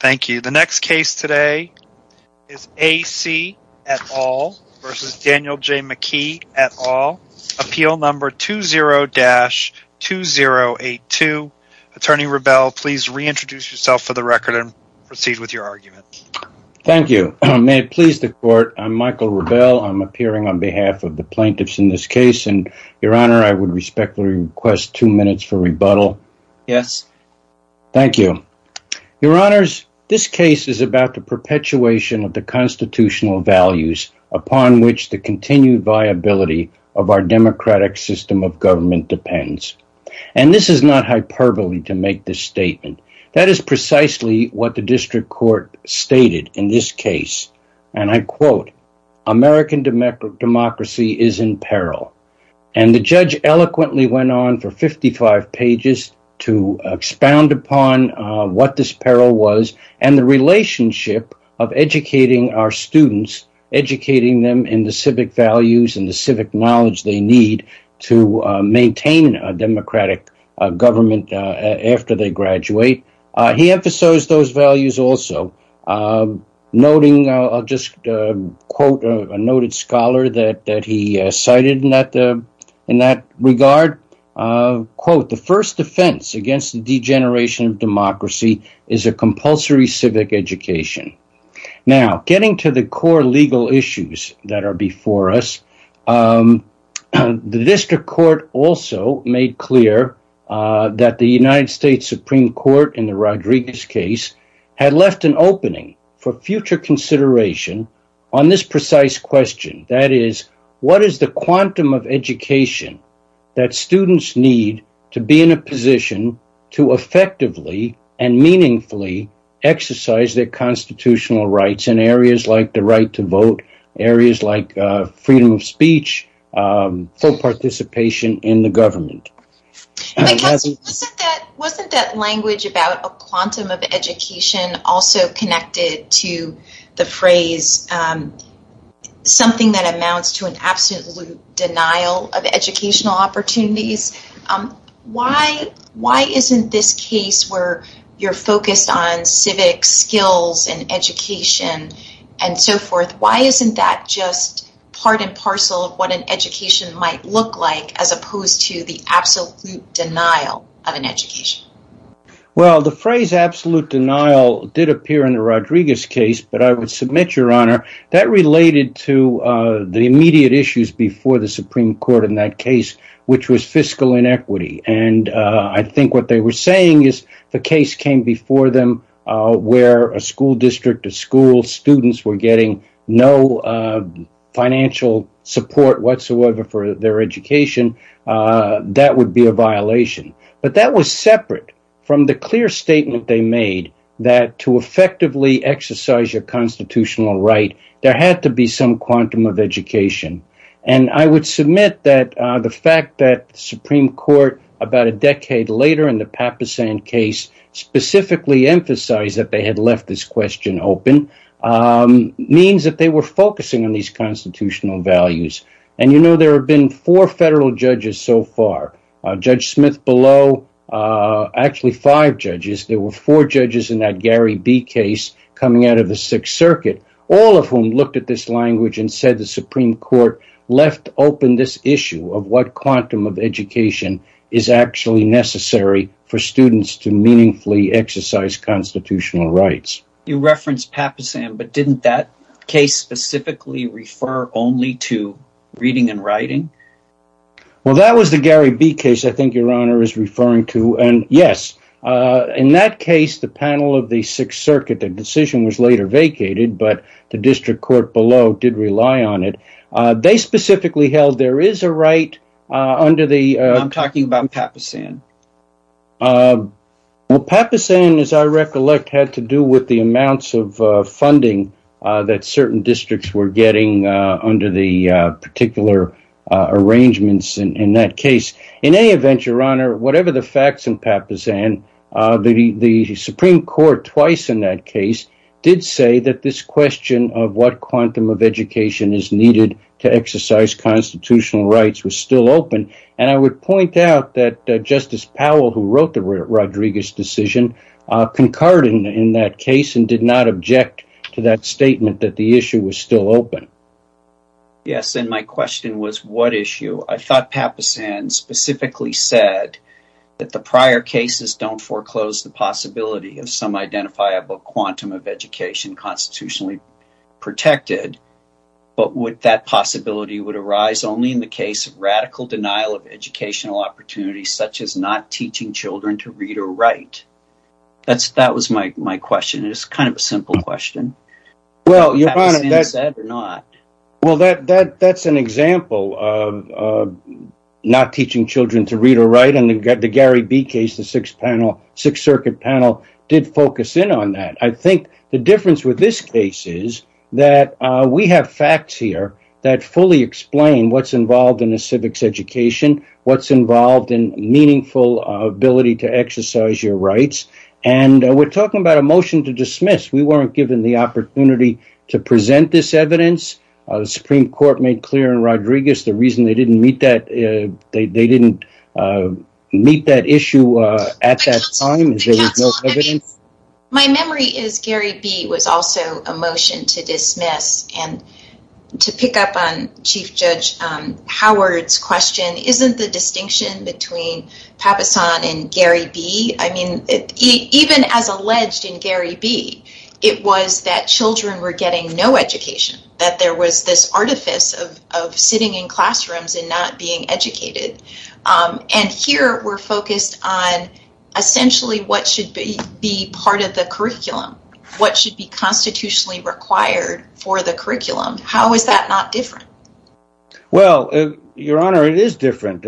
Thank you. The next case today is A.C. et al. v. Daniel J. McKee et al. Appeal number 20-2082. Attorney Rebell, please reintroduce yourself for the record and proceed with your argument. Thank you. May it please the court, I'm Michael Rebell. I'm appearing on behalf of the plaintiffs in this case and, Your Honor, I would respectfully request two minutes for rebuttal. Yes. Thank you. Your Honors, this case is about the perpetuation of the constitutional values upon which the continued viability of our democratic system of government depends. And this is not hyperbole to make this statement. That is precisely what the district court stated in this case. And I quote, American democracy is in peril. And the judge eloquently went on for 55 pages to expound upon what this peril was and the relationship of educating our students, educating them in the civic values and the civic knowledge they need to maintain a democratic government after they graduate. He emphasized those values also, noting, I'll just quote, the first defense against the degeneration of democracy is a compulsory civic education. Now, getting to the core legal issues that are before us, the district court also made clear that the United States Supreme Court in the Rodriguez case had left an opening for future consideration on this precise question. That is, what is the quantum of education that students need to be in a position to effectively and meaningfully exercise their constitutional rights in areas like the right to vote, areas like freedom of speech, full participation in the phrase, something that amounts to an absolute denial of educational opportunities. Why isn't this case where you're focused on civic skills and education and so forth? Why isn't that just part and parcel of what an education might look like as opposed to the absolute denial of an education? That related to the immediate issues before the Supreme Court in that case, which was fiscal inequity. I think what they were saying is the case came before them where a school district or school students were getting no financial support whatsoever for their education. That would be a violation, but that was separate from the clear statement they made that to effectively exercise your constitutional right, there had to be some quantum of education. I would submit that the fact that the Supreme Court about a decade later in the Papasan case specifically emphasized that they had left this question open means that they were focusing on these constitutional values. There have been four federal judges so far. Judge Smith below, actually five judges. There were four judges in that Gary B case coming out of the Sixth Circuit, all of whom looked at this language and said the Supreme Court left open this issue of what quantum of education is actually necessary for students to meaningfully exercise constitutional rights. You referenced Papasan, but didn't that case specifically refer only to reading and yes. In that case, the panel of the Sixth Circuit, the decision was later vacated, but the district court below did rely on it. They specifically held there is a right under the... I'm talking about Papasan. Papasan, as I recollect, had to do with the amounts of funding that certain districts were in. Papasan, the Supreme Court twice in that case did say that this question of what quantum of education is needed to exercise constitutional rights was still open. I would point out that Justice Powell, who wrote the Rodriguez decision, concurred in that case and did not object to that statement that the issue was still open. Yes. My question was what issue? I thought prior cases don't foreclose the possibility of some identifiable quantum of education constitutionally protected, but that possibility would arise only in the case of radical denial of educational opportunities, such as not teaching children to read or write. That was my question. It's kind of a simple question. Well, that's an example of not teaching children to read or write. The Gary B case, the Sixth Circuit panel, did focus in on that. I think the difference with this case is that we have facts here that fully explain what's involved in a civics education, what's involved in meaningful ability to exercise your rights. We're talking about a motion to dismiss. We weren't given the opportunity to present this evidence. The Supreme Court made clear in Rodriguez the reason they didn't meet that issue at that time is there was no evidence. My memory is Gary B was also a motion to dismiss. To pick up on Chief Judge Howard's question, isn't the distinction between Papasan and Gary B? Even as alleged in Gary B, it was that children were getting no education, that there was this artifice of sitting in classrooms and not being educated. Here, we're focused on essentially what should be part of the curriculum, what should be constitutionally required for the curriculum. How is that not different? Well, Your Honor, it is different.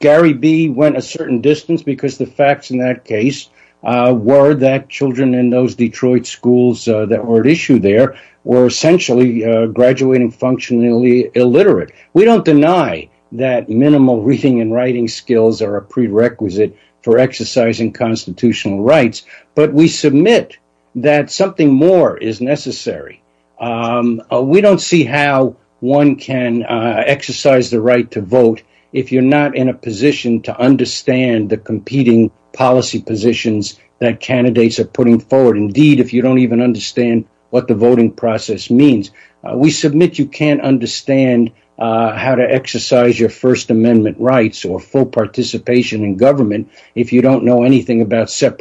Gary B went a certain distance because the facts in that case were that children in those Detroit schools that were issued there were essentially graduating functionally illiterate. We don't deny that minimal reading and writing skills are a prerequisite for exercising constitutional rights, but we submit that something more is necessary. We don't see how one can exercise the right to vote if you're not in a position to understand the competing policy positions that candidates are putting forward, indeed, if you don't even understand what the voting process means. We submit you can't understand how to exercise your First Amendment rights or full participation in government if you don't know anything about when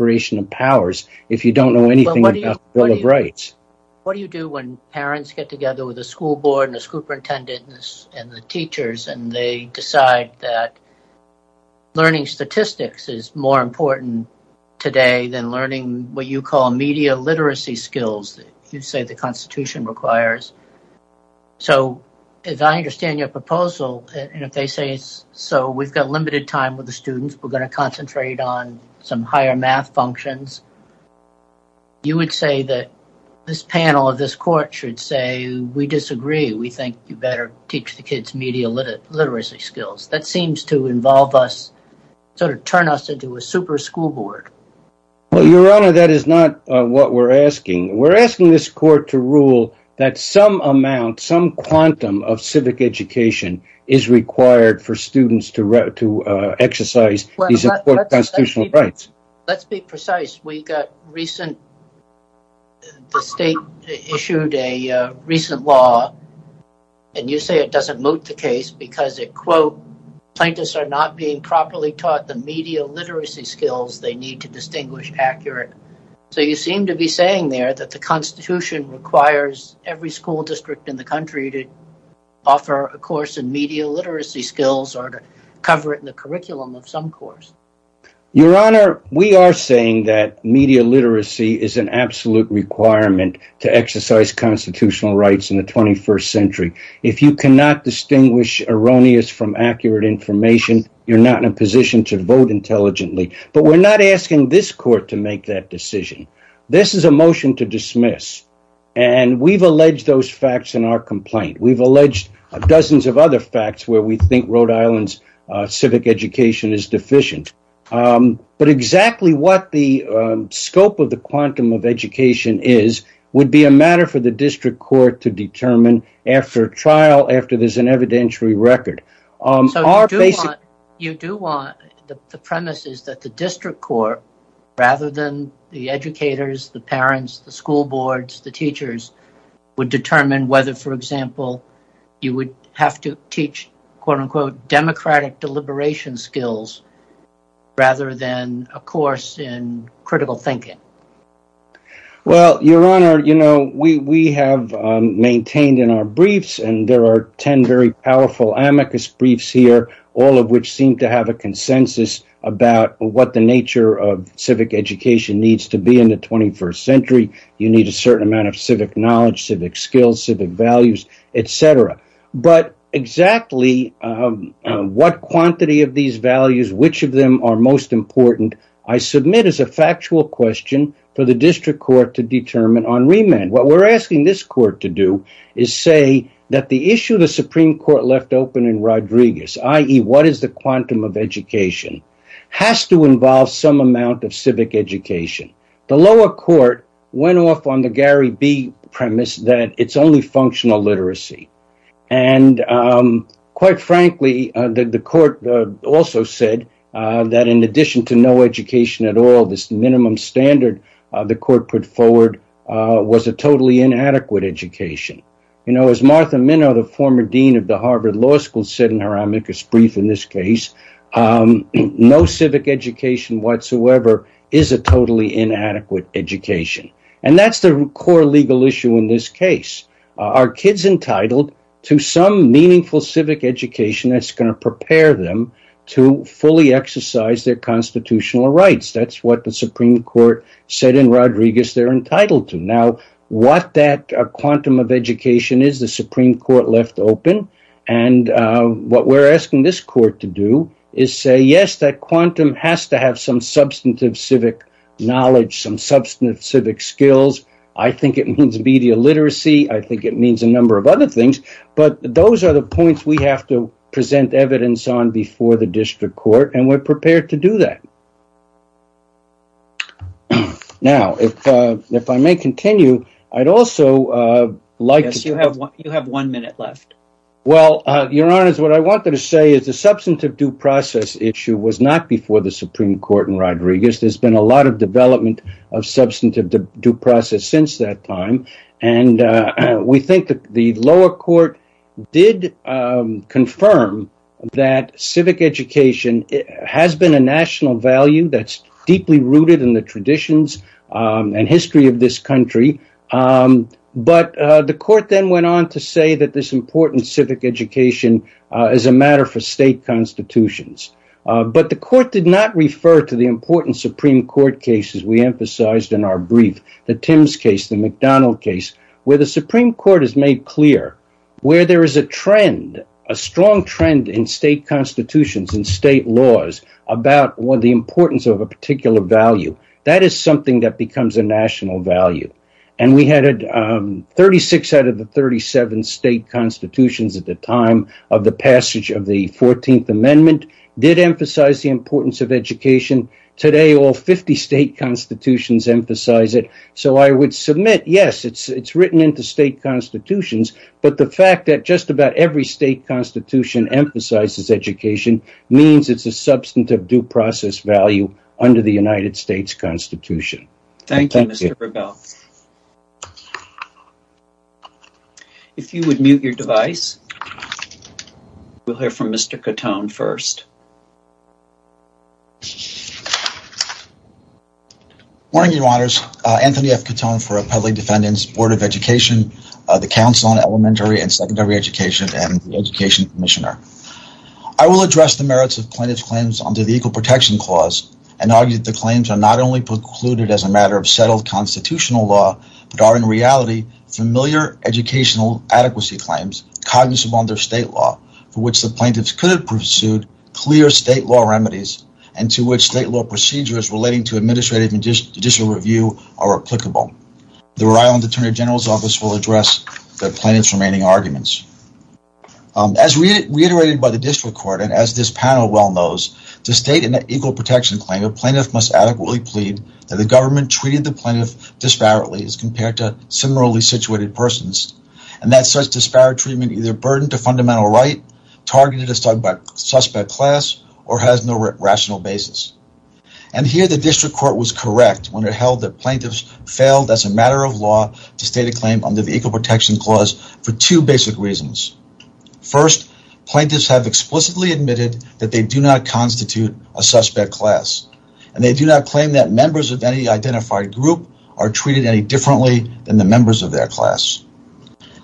parents get together with the school board and the superintendents and the teachers, and they decide that learning statistics is more important today than learning what you call media literacy skills that you say the Constitution requires. If I understand your proposal, and if they say, so we've got limited time with the students, we're going to concentrate on some higher math functions, you would say that this panel of this court should say we disagree. We think you better teach the kids media literacy skills. That seems to involve us, sort of turn us into a super school board. Well, Your Honor, that is not what we're asking. We're asking this court to rule that some amount, some quantum of civic education is required for Let's be precise. We got recent, the state issued a recent law, and you say it doesn't moot the case because it, quote, plaintiffs are not being properly taught the media literacy skills they need to distinguish accurate. So you seem to be saying there that the Constitution requires every school district in the country to offer a course in media literacy skills or to curriculum of some course. Your Honor, we are saying that media literacy is an absolute requirement to exercise constitutional rights in the 21st century. If you cannot distinguish erroneous from accurate information, you're not in a position to vote intelligently, but we're not asking this court to make that decision. This is a motion to dismiss, and we've alleged those facts in our complaint. We've alleged dozens of other facts where we think Rhode Island's civic education is deficient, but exactly what the scope of the quantum of education is would be a matter for the district court to determine after trial, after there's an evidentiary record. So you do want the premise is that the district court, rather than the educators, the parents, the school boards, the teachers, would determine whether, for example, you would have to teach democratic deliberation skills rather than a course in critical thinking. Well, Your Honor, we have maintained in our briefs, and there are 10 very powerful amicus briefs here, all of which seem to have a consensus about what the nature of civic education needs to be in the 21st century. You need a certain amount of civic knowledge, civic skills, civic values, etc., but exactly what quantity of these values, which of them are most important, I submit as a factual question for the district court to determine on remand. What we're asking this court to do is say that the issue the Supreme Court left open in Rodriguez, i.e., what is the quantum of education, has to involve some amount of civic education. The lower court went off on the Gary B. premise that it's only functional literacy, and quite frankly, the court also said that in addition to no education at all, this minimum standard the court put forward was a totally inadequate education. You know, as Martha Minow, the former dean of the Harvard Law School, said in her amicus brief in this case, that no civic education whatsoever is a totally inadequate education, and that's the core legal issue in this case. Are kids entitled to some meaningful civic education that's going to prepare them to fully exercise their constitutional rights? That's what the Supreme Court said in Rodriguez they're entitled to. Now, what that quantum of education is, Supreme Court left open, and what we're asking this court to do is say, yes, that quantum has to have some substantive civic knowledge, some substantive civic skills. I think it means media literacy. I think it means a number of other things, but those are the points we have to present evidence on before the district court, and we're prepared to do that. Now, if I may continue, I'd also like to... Yes, you have one minute left. Well, Your Honor, what I wanted to say is the substantive due process issue was not before the Supreme Court in Rodriguez. There's been a lot of development of substantive due process since that time, and we think that the lower court did confirm that civic education has been a national value that's deeply rooted in the traditions and history of this country, but the court then went on to say that this important civic education is a matter for state constitutions, but the court did not refer to the important Supreme Court cases we emphasized in our brief, the Tims case, the McDonald case, where the Supreme Court has made clear where there is a trend, a strong trend in state constitutions and state laws about the importance of a particular value. That is something that becomes a national value, and we had 36 out of the 37 state constitutions at the time of the passage of the 14th Amendment did emphasize the importance of education. Today, all 50 state constitutions emphasize it, so I would submit, yes, it's written into state constitutions, but the fact that just about every state constitution emphasizes education means it's a substantive due process value under the United States Constitution. If you would mute your device, we'll hear from Mr. Catone first. Good morning, Your Honors. Anthony F. Catone for Appellate Defendants, Board of Education, the Council on Elementary and Secondary Education, and the Education Commissioner. I will address the merits of plaintiff's claims under the Equal Protection Clause and argue that the claims are not only precluded as a matter of settled constitutional law, but are in reality familiar educational adequacy claims cognizant of their state law, for which the plaintiffs could have pursued clear state law remedies, and to which state law procedures relating to administrative judicial review are applicable. The Rhode Island Attorney General's Office will address the plaintiff's remaining arguments. As reiterated by the District Court, and as this panel well knows, to state an equal protection claim, a plaintiff must adequately plead that the government treated the plaintiff disparately as compared to similarly situated persons, and that such disparate treatment either burdened the targeted suspect class or has no rational basis. And here the District Court was correct when it held that plaintiffs failed as a matter of law to state a claim under the Equal Protection Clause for two basic reasons. First, plaintiffs have explicitly admitted that they do not constitute a suspect class, and they do not claim that members of any identified group are treated any differently than the members of their class.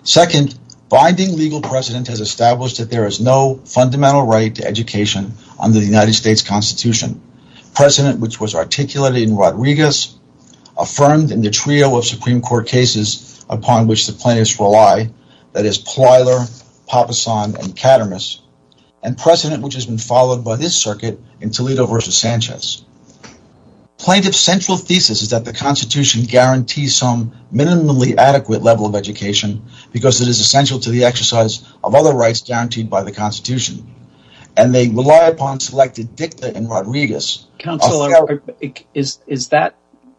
Second, binding legal precedent has established that there is no fundamental right to education under the United States Constitution, precedent which was articulated in Rodriguez, affirmed in the trio of Supreme Court cases upon which the plaintiffs rely, that is Plyler, Papasan, and Kattermas, and precedent which has been followed by this circuit in Toledo v. Sanchez. Plaintiff's central thesis is that the Constitution guarantees some minimally adequate level of education because it is essential to the exercise of other rights guaranteed by the Constitution, and they rely upon selected dicta in Rodriguez. Counselor,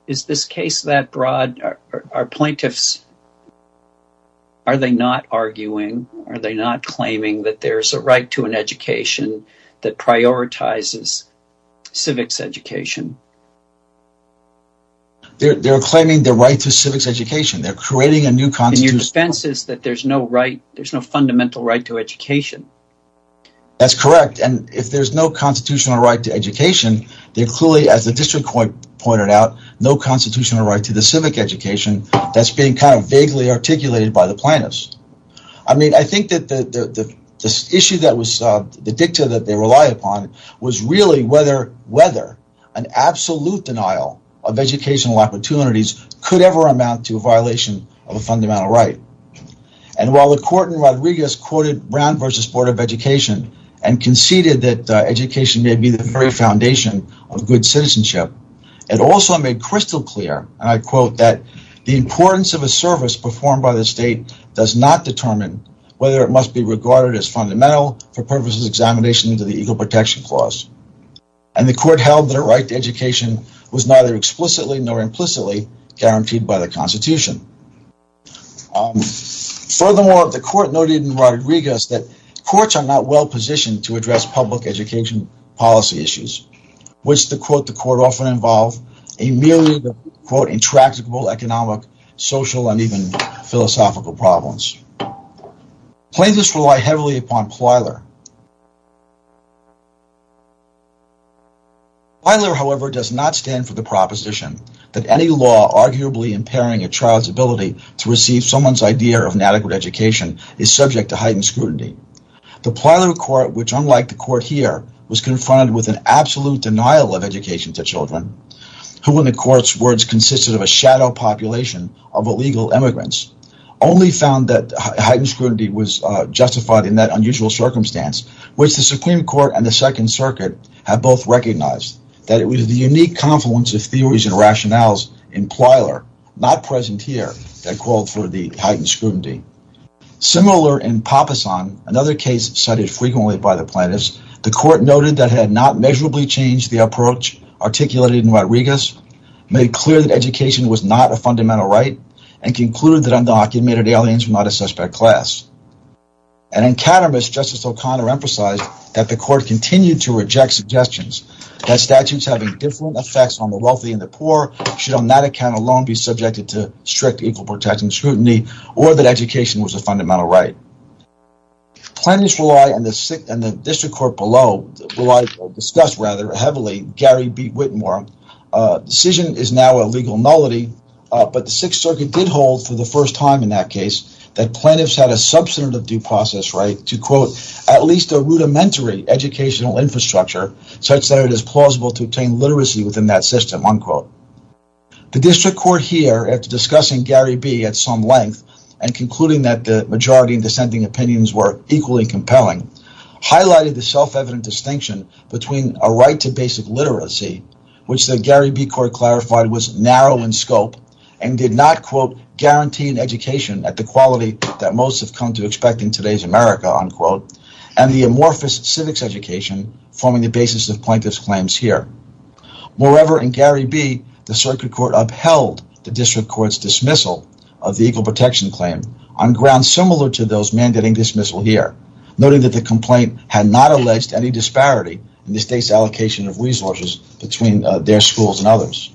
is this case that broad, are plaintiffs, are they not arguing, are they not claiming that there's a right to an education that prioritizes civics education? They're claiming the right to civics education. They're creating a new constitution. There's no right, there's no fundamental right to education. That's correct, and if there's no constitutional right to education, they're clearly, as the district court pointed out, no constitutional right to the civic education that's being kind of vaguely articulated by the plaintiffs. I mean, I think that the issue that was the dicta that they rely upon was really whether an absolute denial of educational opportunities could ever amount to a violation of a fundamental right, and while the court in Rodriguez quoted Brown versus Board of Education and conceded that education may be the very foundation of good citizenship, it also made crystal clear, and I quote, that the importance of a service performed by the state does not determine whether it must be regarded as fundamental for purposes of examination into the Equal Protection Clause, and the court held that education was neither explicitly nor implicitly guaranteed by the Constitution. Furthermore, the court noted in Rodriguez that courts are not well positioned to address public education policy issues, which, to quote the court, often involve a myriad of, quote, intractable economic, social, and even philosophical problems. Plaintiffs rely heavily upon Plyler. Plyler, however, does not stand for the proposition that any law arguably impairing a child's ability to receive someone's idea of an adequate education is subject to heightened scrutiny. The Plyler Court, which, unlike the court here, was confronted with an absolute denial of education to children, who in the court's words consisted of a shadow population of illegal immigrants, only found that heightened scrutiny was justified in that unusual circumstance, which the Supreme Court and the Second Circuit have both recognized, that it was the unique confluence of theories and rationales in Plyler, not present here, that called for the heightened scrutiny. Similar in Papasan, another case cited frequently by the plaintiffs, the court noted that had not measurably changed the approach articulated in Rodriguez, made clear that education was not a fundamental right, and concluded that undocumented aliens were not a suspect class. And in Catermas, Justice O'Connor emphasized that the court continued to reject suggestions that statutes having different effects on the wealthy and the poor should, on that account alone, be subjected to strict equal protection scrutiny, or that education was a fundamental right. Plaintiffs rely, and the district court below discussed rather heavily, Gary B. Whitmore, decision is now a legal nullity, but the Sixth Circuit did hold, for the first time in that case, that plaintiffs had a substantive due process right to quote, at least a rudimentary educational infrastructure, such that it is plausible to obtain literacy within that system, unquote. The district court here, after discussing Gary B. at some length, and concluding that the majority and dissenting opinions were equally compelling, highlighted the self-evident distinction between a right to basic literacy, which the Gary B. Court clarified was narrow in scope, and did not quote, guarantee an education at the quality that most have come to expect in today's America, unquote, and the amorphous civics education forming the basis of plaintiff's claims here. Moreover, in Gary B., the circuit court upheld the district court's dismissal of the equal protection claim on grounds similar to those mandating dismissal here, noting that the of resources between their schools and others.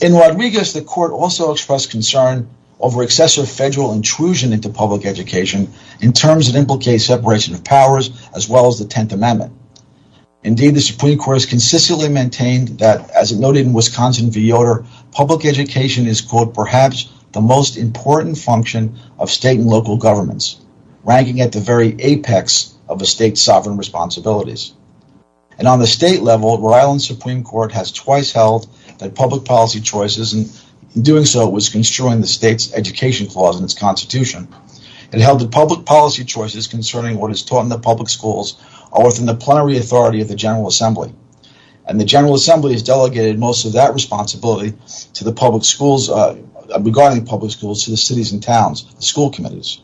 In Rodriguez, the court also expressed concern over excessive federal intrusion into public education in terms that implicate separation of powers, as well as the Tenth Amendment. Indeed, the Supreme Court has consistently maintained that, as noted in Wisconsin v. Yoder, public education is, quote, perhaps the most important function of state and local governments, ranking at the very apex of a state's sovereign responsibilities. On the state level, Rhode Island's Supreme Court has twice held that public policy choices, and in doing so it was construing the state's education clause in its constitution. It held that public policy choices concerning what is taught in the public schools are within the plenary authority of the General Assembly, and the General Assembly has delegated most of that responsibility regarding public schools to the cities and towns, the school committees.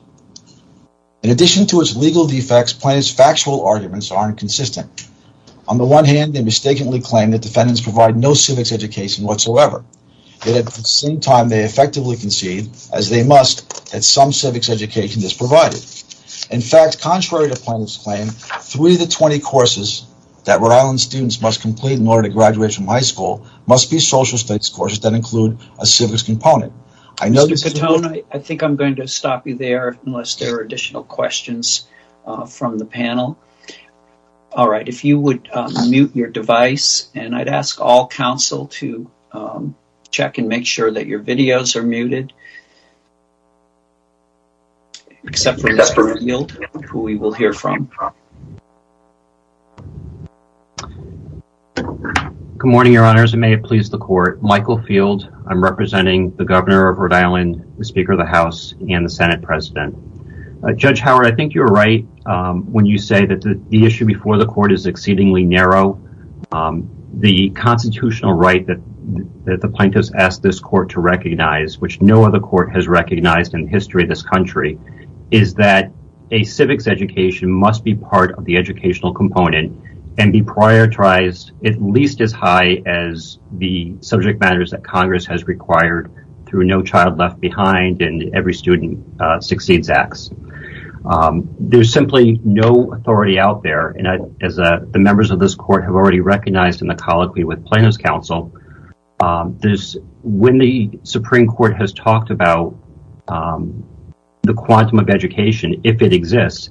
In addition to its legal defects, plaintiff's factual arguments are inconsistent. On the one hand, they mistakenly claim that defendants provide no civics education whatsoever, yet at the same time they effectively concede, as they must, that some civics education is provided. In fact, contrary to plaintiff's claim, three of the 20 courses that Rhode Island students must complete in order to graduate from high school must be social studies courses that include a civics component. Mr. Catone, I think I'm going to stop you there unless there are additional questions from the panel. All right, if you would mute your device, and I'd ask all counsel to check and make sure that your videos are muted, except for Mr. Field, who we will hear from. Good morning, your honors. It may have pleased the court. Michael Field, I'm representing the governor of Rhode Island, the Speaker of the House, and the Senate President. Judge Howard, I think you're right when you say that the issue before the court is exceedingly narrow. The constitutional right that the plaintiffs asked this court to recognize, which no other court has recognized in the history of this country, is that a civics education must be part of the educational component and be prioritized at least as high as the subject matters that Congress has required through No Child Left Behind and Every Student Succeeds Acts. There's simply no authority out there, and as the members of this court have already recognized in the colloquy with plaintiff's counsel, when the Supreme Court has talked about the quantum of education, if it exists,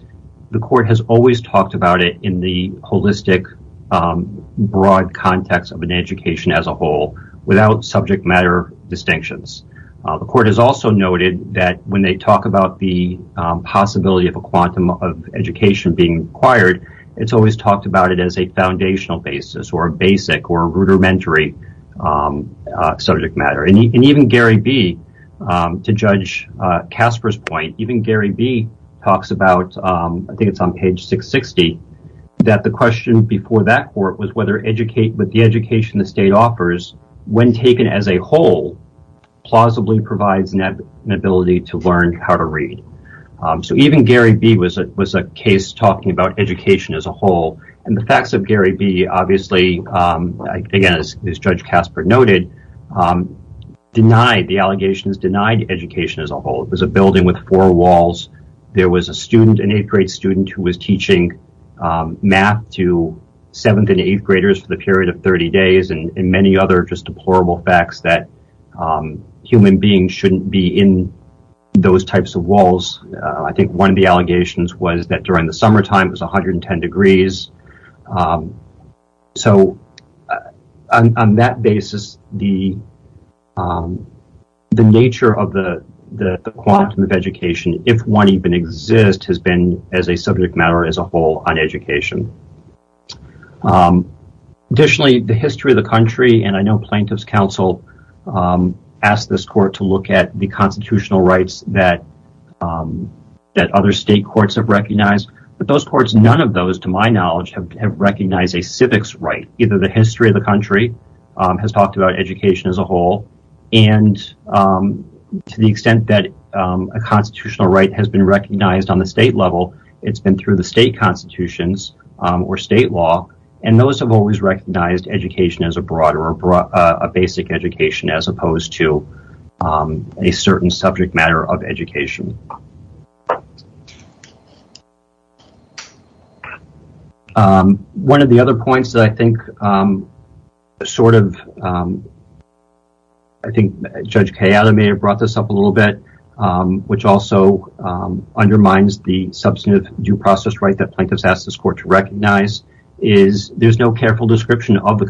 the court has always talked about it in the holistic, broad context of an education as a whole, without subject matter distinctions. The court has also noted that when they talk about the possibility of a quantum of education being required, it's always talked about it as a foundational basis, or a basic, or a rudimentary subject matter. And even Gary B., to Judge Casper's point, even Gary B. talks about, I think it's on page 660, that the question before that court was whether the education the state offers, when taken as a whole, plausibly provides an ability to learn how to read. So even Gary B. was a case talking about education as a whole, and the facts of Gary B., obviously, again, as Judge Casper noted, denied, the allegations denied education as a whole. It was a building with four walls. There was a student, an eighth grade student, who was teaching math to seventh and eighth graders for the period of 30 days, and many other just deplorable facts that human beings shouldn't be in those types of walls. I think one of the allegations was that 110 degrees. So on that basis, the nature of the quantum of education, if one even exists, has been as a subject matter as a whole on education. Additionally, the history of the country, and I know Plaintiff's Counsel asked this court to look at the constitutional rights that other state courts have recognized, but those courts, none of those, to my knowledge, have recognized a civics right. Either the history of the country has talked about education as a whole, and to the extent that a constitutional right has been recognized on the state level, it's been through the state constitutions or state law, and those have always recognized education as a broader, a basic education as opposed to a certain subject matter of education. Um, one of the other points that I think, um, sort of, um, I think Judge Kayada may have brought this up a little bit, um, which also, um, undermines the substantive due process right that Plaintiff's asked this court to recognize is there's no careful description of the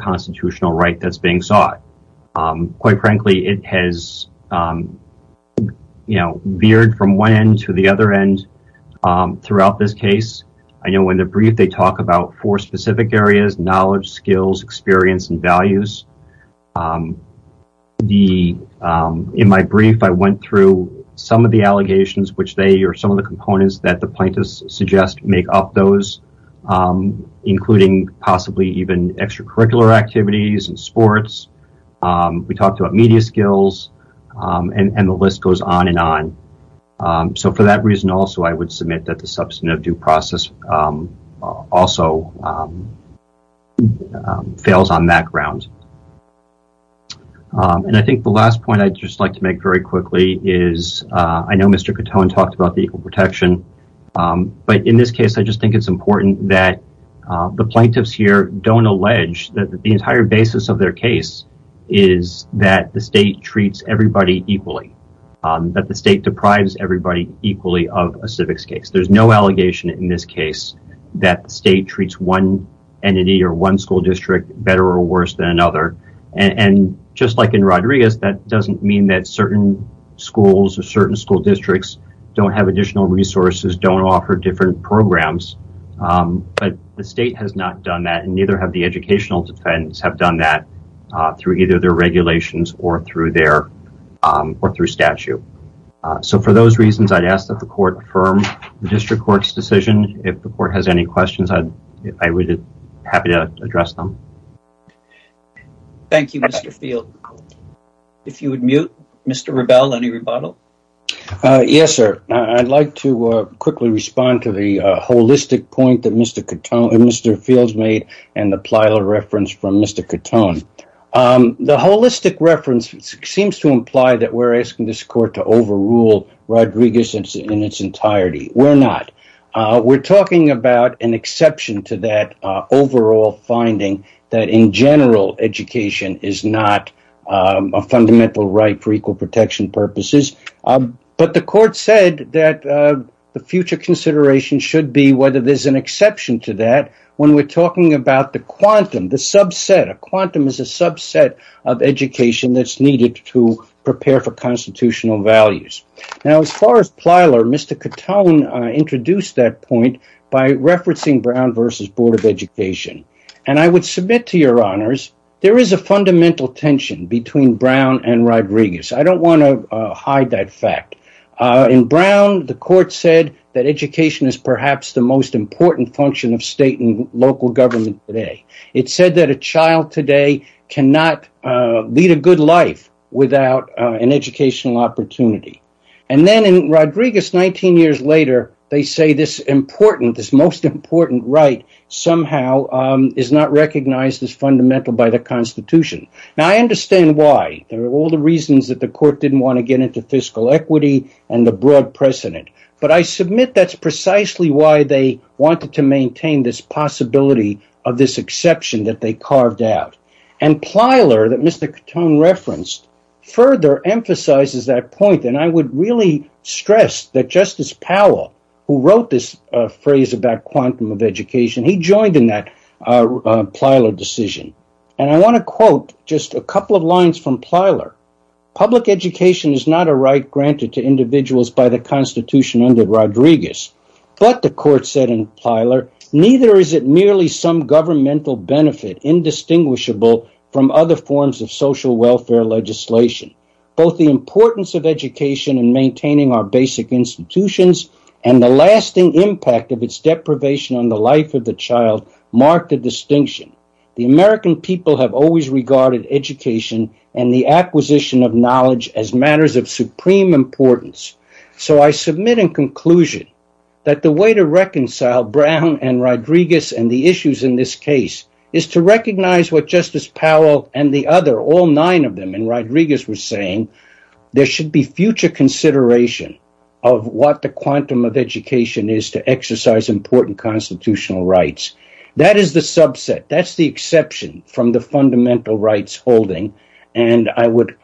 other end, um, throughout this case. I know in the brief, they talk about four specific areas, knowledge, skills, experience, and values. Um, the, um, in my brief, I went through some of the allegations, which they, or some of the components that the plaintiffs suggest make up those, um, including possibly even extracurricular activities and sports. Um, we talked about media skills, um, and, and the list goes on and on. Um, so for that reason also, I would submit that the substantive due process, um, also, um, fails on that ground. Um, and I think the last point I'd just like to make very quickly is, uh, I know Mr. Catone talked about the equal protection, um, but in this case, I just think it's important that, uh, the plaintiffs here don't allege that the entire basis of their case is that the state treats everybody equally, um, that the state deprives everybody equally of a civics case. There's no allegation in this case that the state treats one entity or one school district better or worse than another. And, and just like in Rodriguez, that doesn't mean that certain schools or certain school districts don't have additional resources, don't offer different programs. Um, but the state has not done that and neither have the educational defense have done that, uh, through either their regulations or through their, um, or through statute. Uh, so for those reasons, I'd ask that the court affirm the district court's decision. If the court has any questions, I'd, I would be happy to address them. Thank you, Mr. Field. If you would mute, Mr. Rebell, any rebuttal? Uh, yes, sir. I'd like to, uh, quickly respond to the, uh, holistic point that Mr. Catone, Mr. Fields made and the Plyler reference from Mr. Catone. Um, the holistic reference seems to imply that we're asking this court to overrule Rodriguez in its entirety. We're not. Uh, we're talking about an exception to that, uh, overall finding that in general education is not, um, a fundamental right for equal protection purposes. Um, but the court said that, uh, the future consideration should be whether there's an exception to that when we're talking about the quantum, the subset of quantum is a subset of education that's needed to prepare for constitutional values. Now, as far as Plyler, Mr. Catone, uh, introduced that point by referencing Brown versus board of education. And I would submit to your honors, there is a fundamental tension between Brown and Rodriguez. I don't want to hide that fact. Uh, in Brown, the court said that education is perhaps the most important function of state and local government today. It said that a child today cannot, uh, lead a good life without, uh, an educational opportunity. And then in Rodriguez, 19 years later, they say this important, this most important right somehow, um, is not recognized as fundamental by the constitution. Now I understand why there are all the reasons that the court didn't want to get into fiscal equity and the broad precedent, but I submit that's precisely why they wanted to maintain this possibility of this exception that they carved out. And Plyler that Mr. Catone referenced further emphasizes that point. And I would really stress that justice Powell who wrote this, uh, phrase about quantum of education, he joined in that, uh, uh, Plyler decision. And I want to quote just a couple of lines from Plyler. Public education is not a right granted to individuals by the constitution under Rodriguez, but the court said in Plyler, neither is it merely some governmental benefit indistinguishable from other forms of social welfare legislation. Both the importance of education and maintaining our basic institutions and the lasting impact of its deprivation on the life of the child marked a distinction. The American people have always regarded education and the acquisition of knowledge as matters of supreme importance. So I submit in conclusion that the way to reconcile Brown and Rodriguez and the issues in this case is to recognize what justice Powell and the other, all nine of them, and Rodriguez was saying there should be future consideration of what the quantum of education is to exercise important constitutional rights. That is the subset. That's the exception from the fundamental rights holding. And I would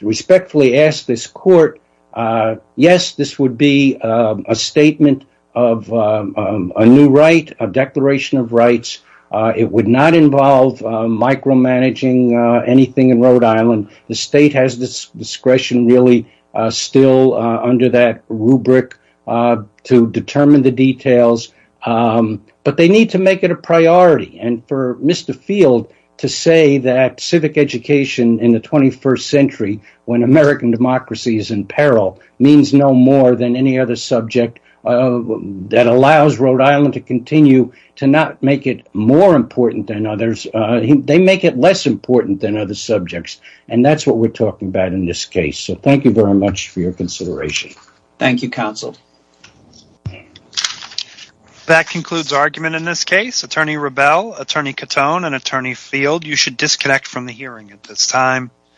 respectfully ask this court, uh, yes, this would be, um, a statement of, um, um, a new right, a declaration of rights. Uh, it would not involve, uh, micromanaging, uh, anything in Rhode Island. The state has this discretion really, uh, still, uh, under that rubric, uh, to determine the details. Um, but they need to make it a priority. And for Mr. Field to say that civic education in the 21st century, when American democracy is in any other subject, uh, that allows Rhode Island to continue to not make it more important than others, uh, they make it less important than other subjects. And that's what we're talking about in this case. So thank you very much for your consideration. Thank you counsel. That concludes argument in this case, attorney rebel, attorney Katone and attorney field. You should disconnect from the hearing at this time.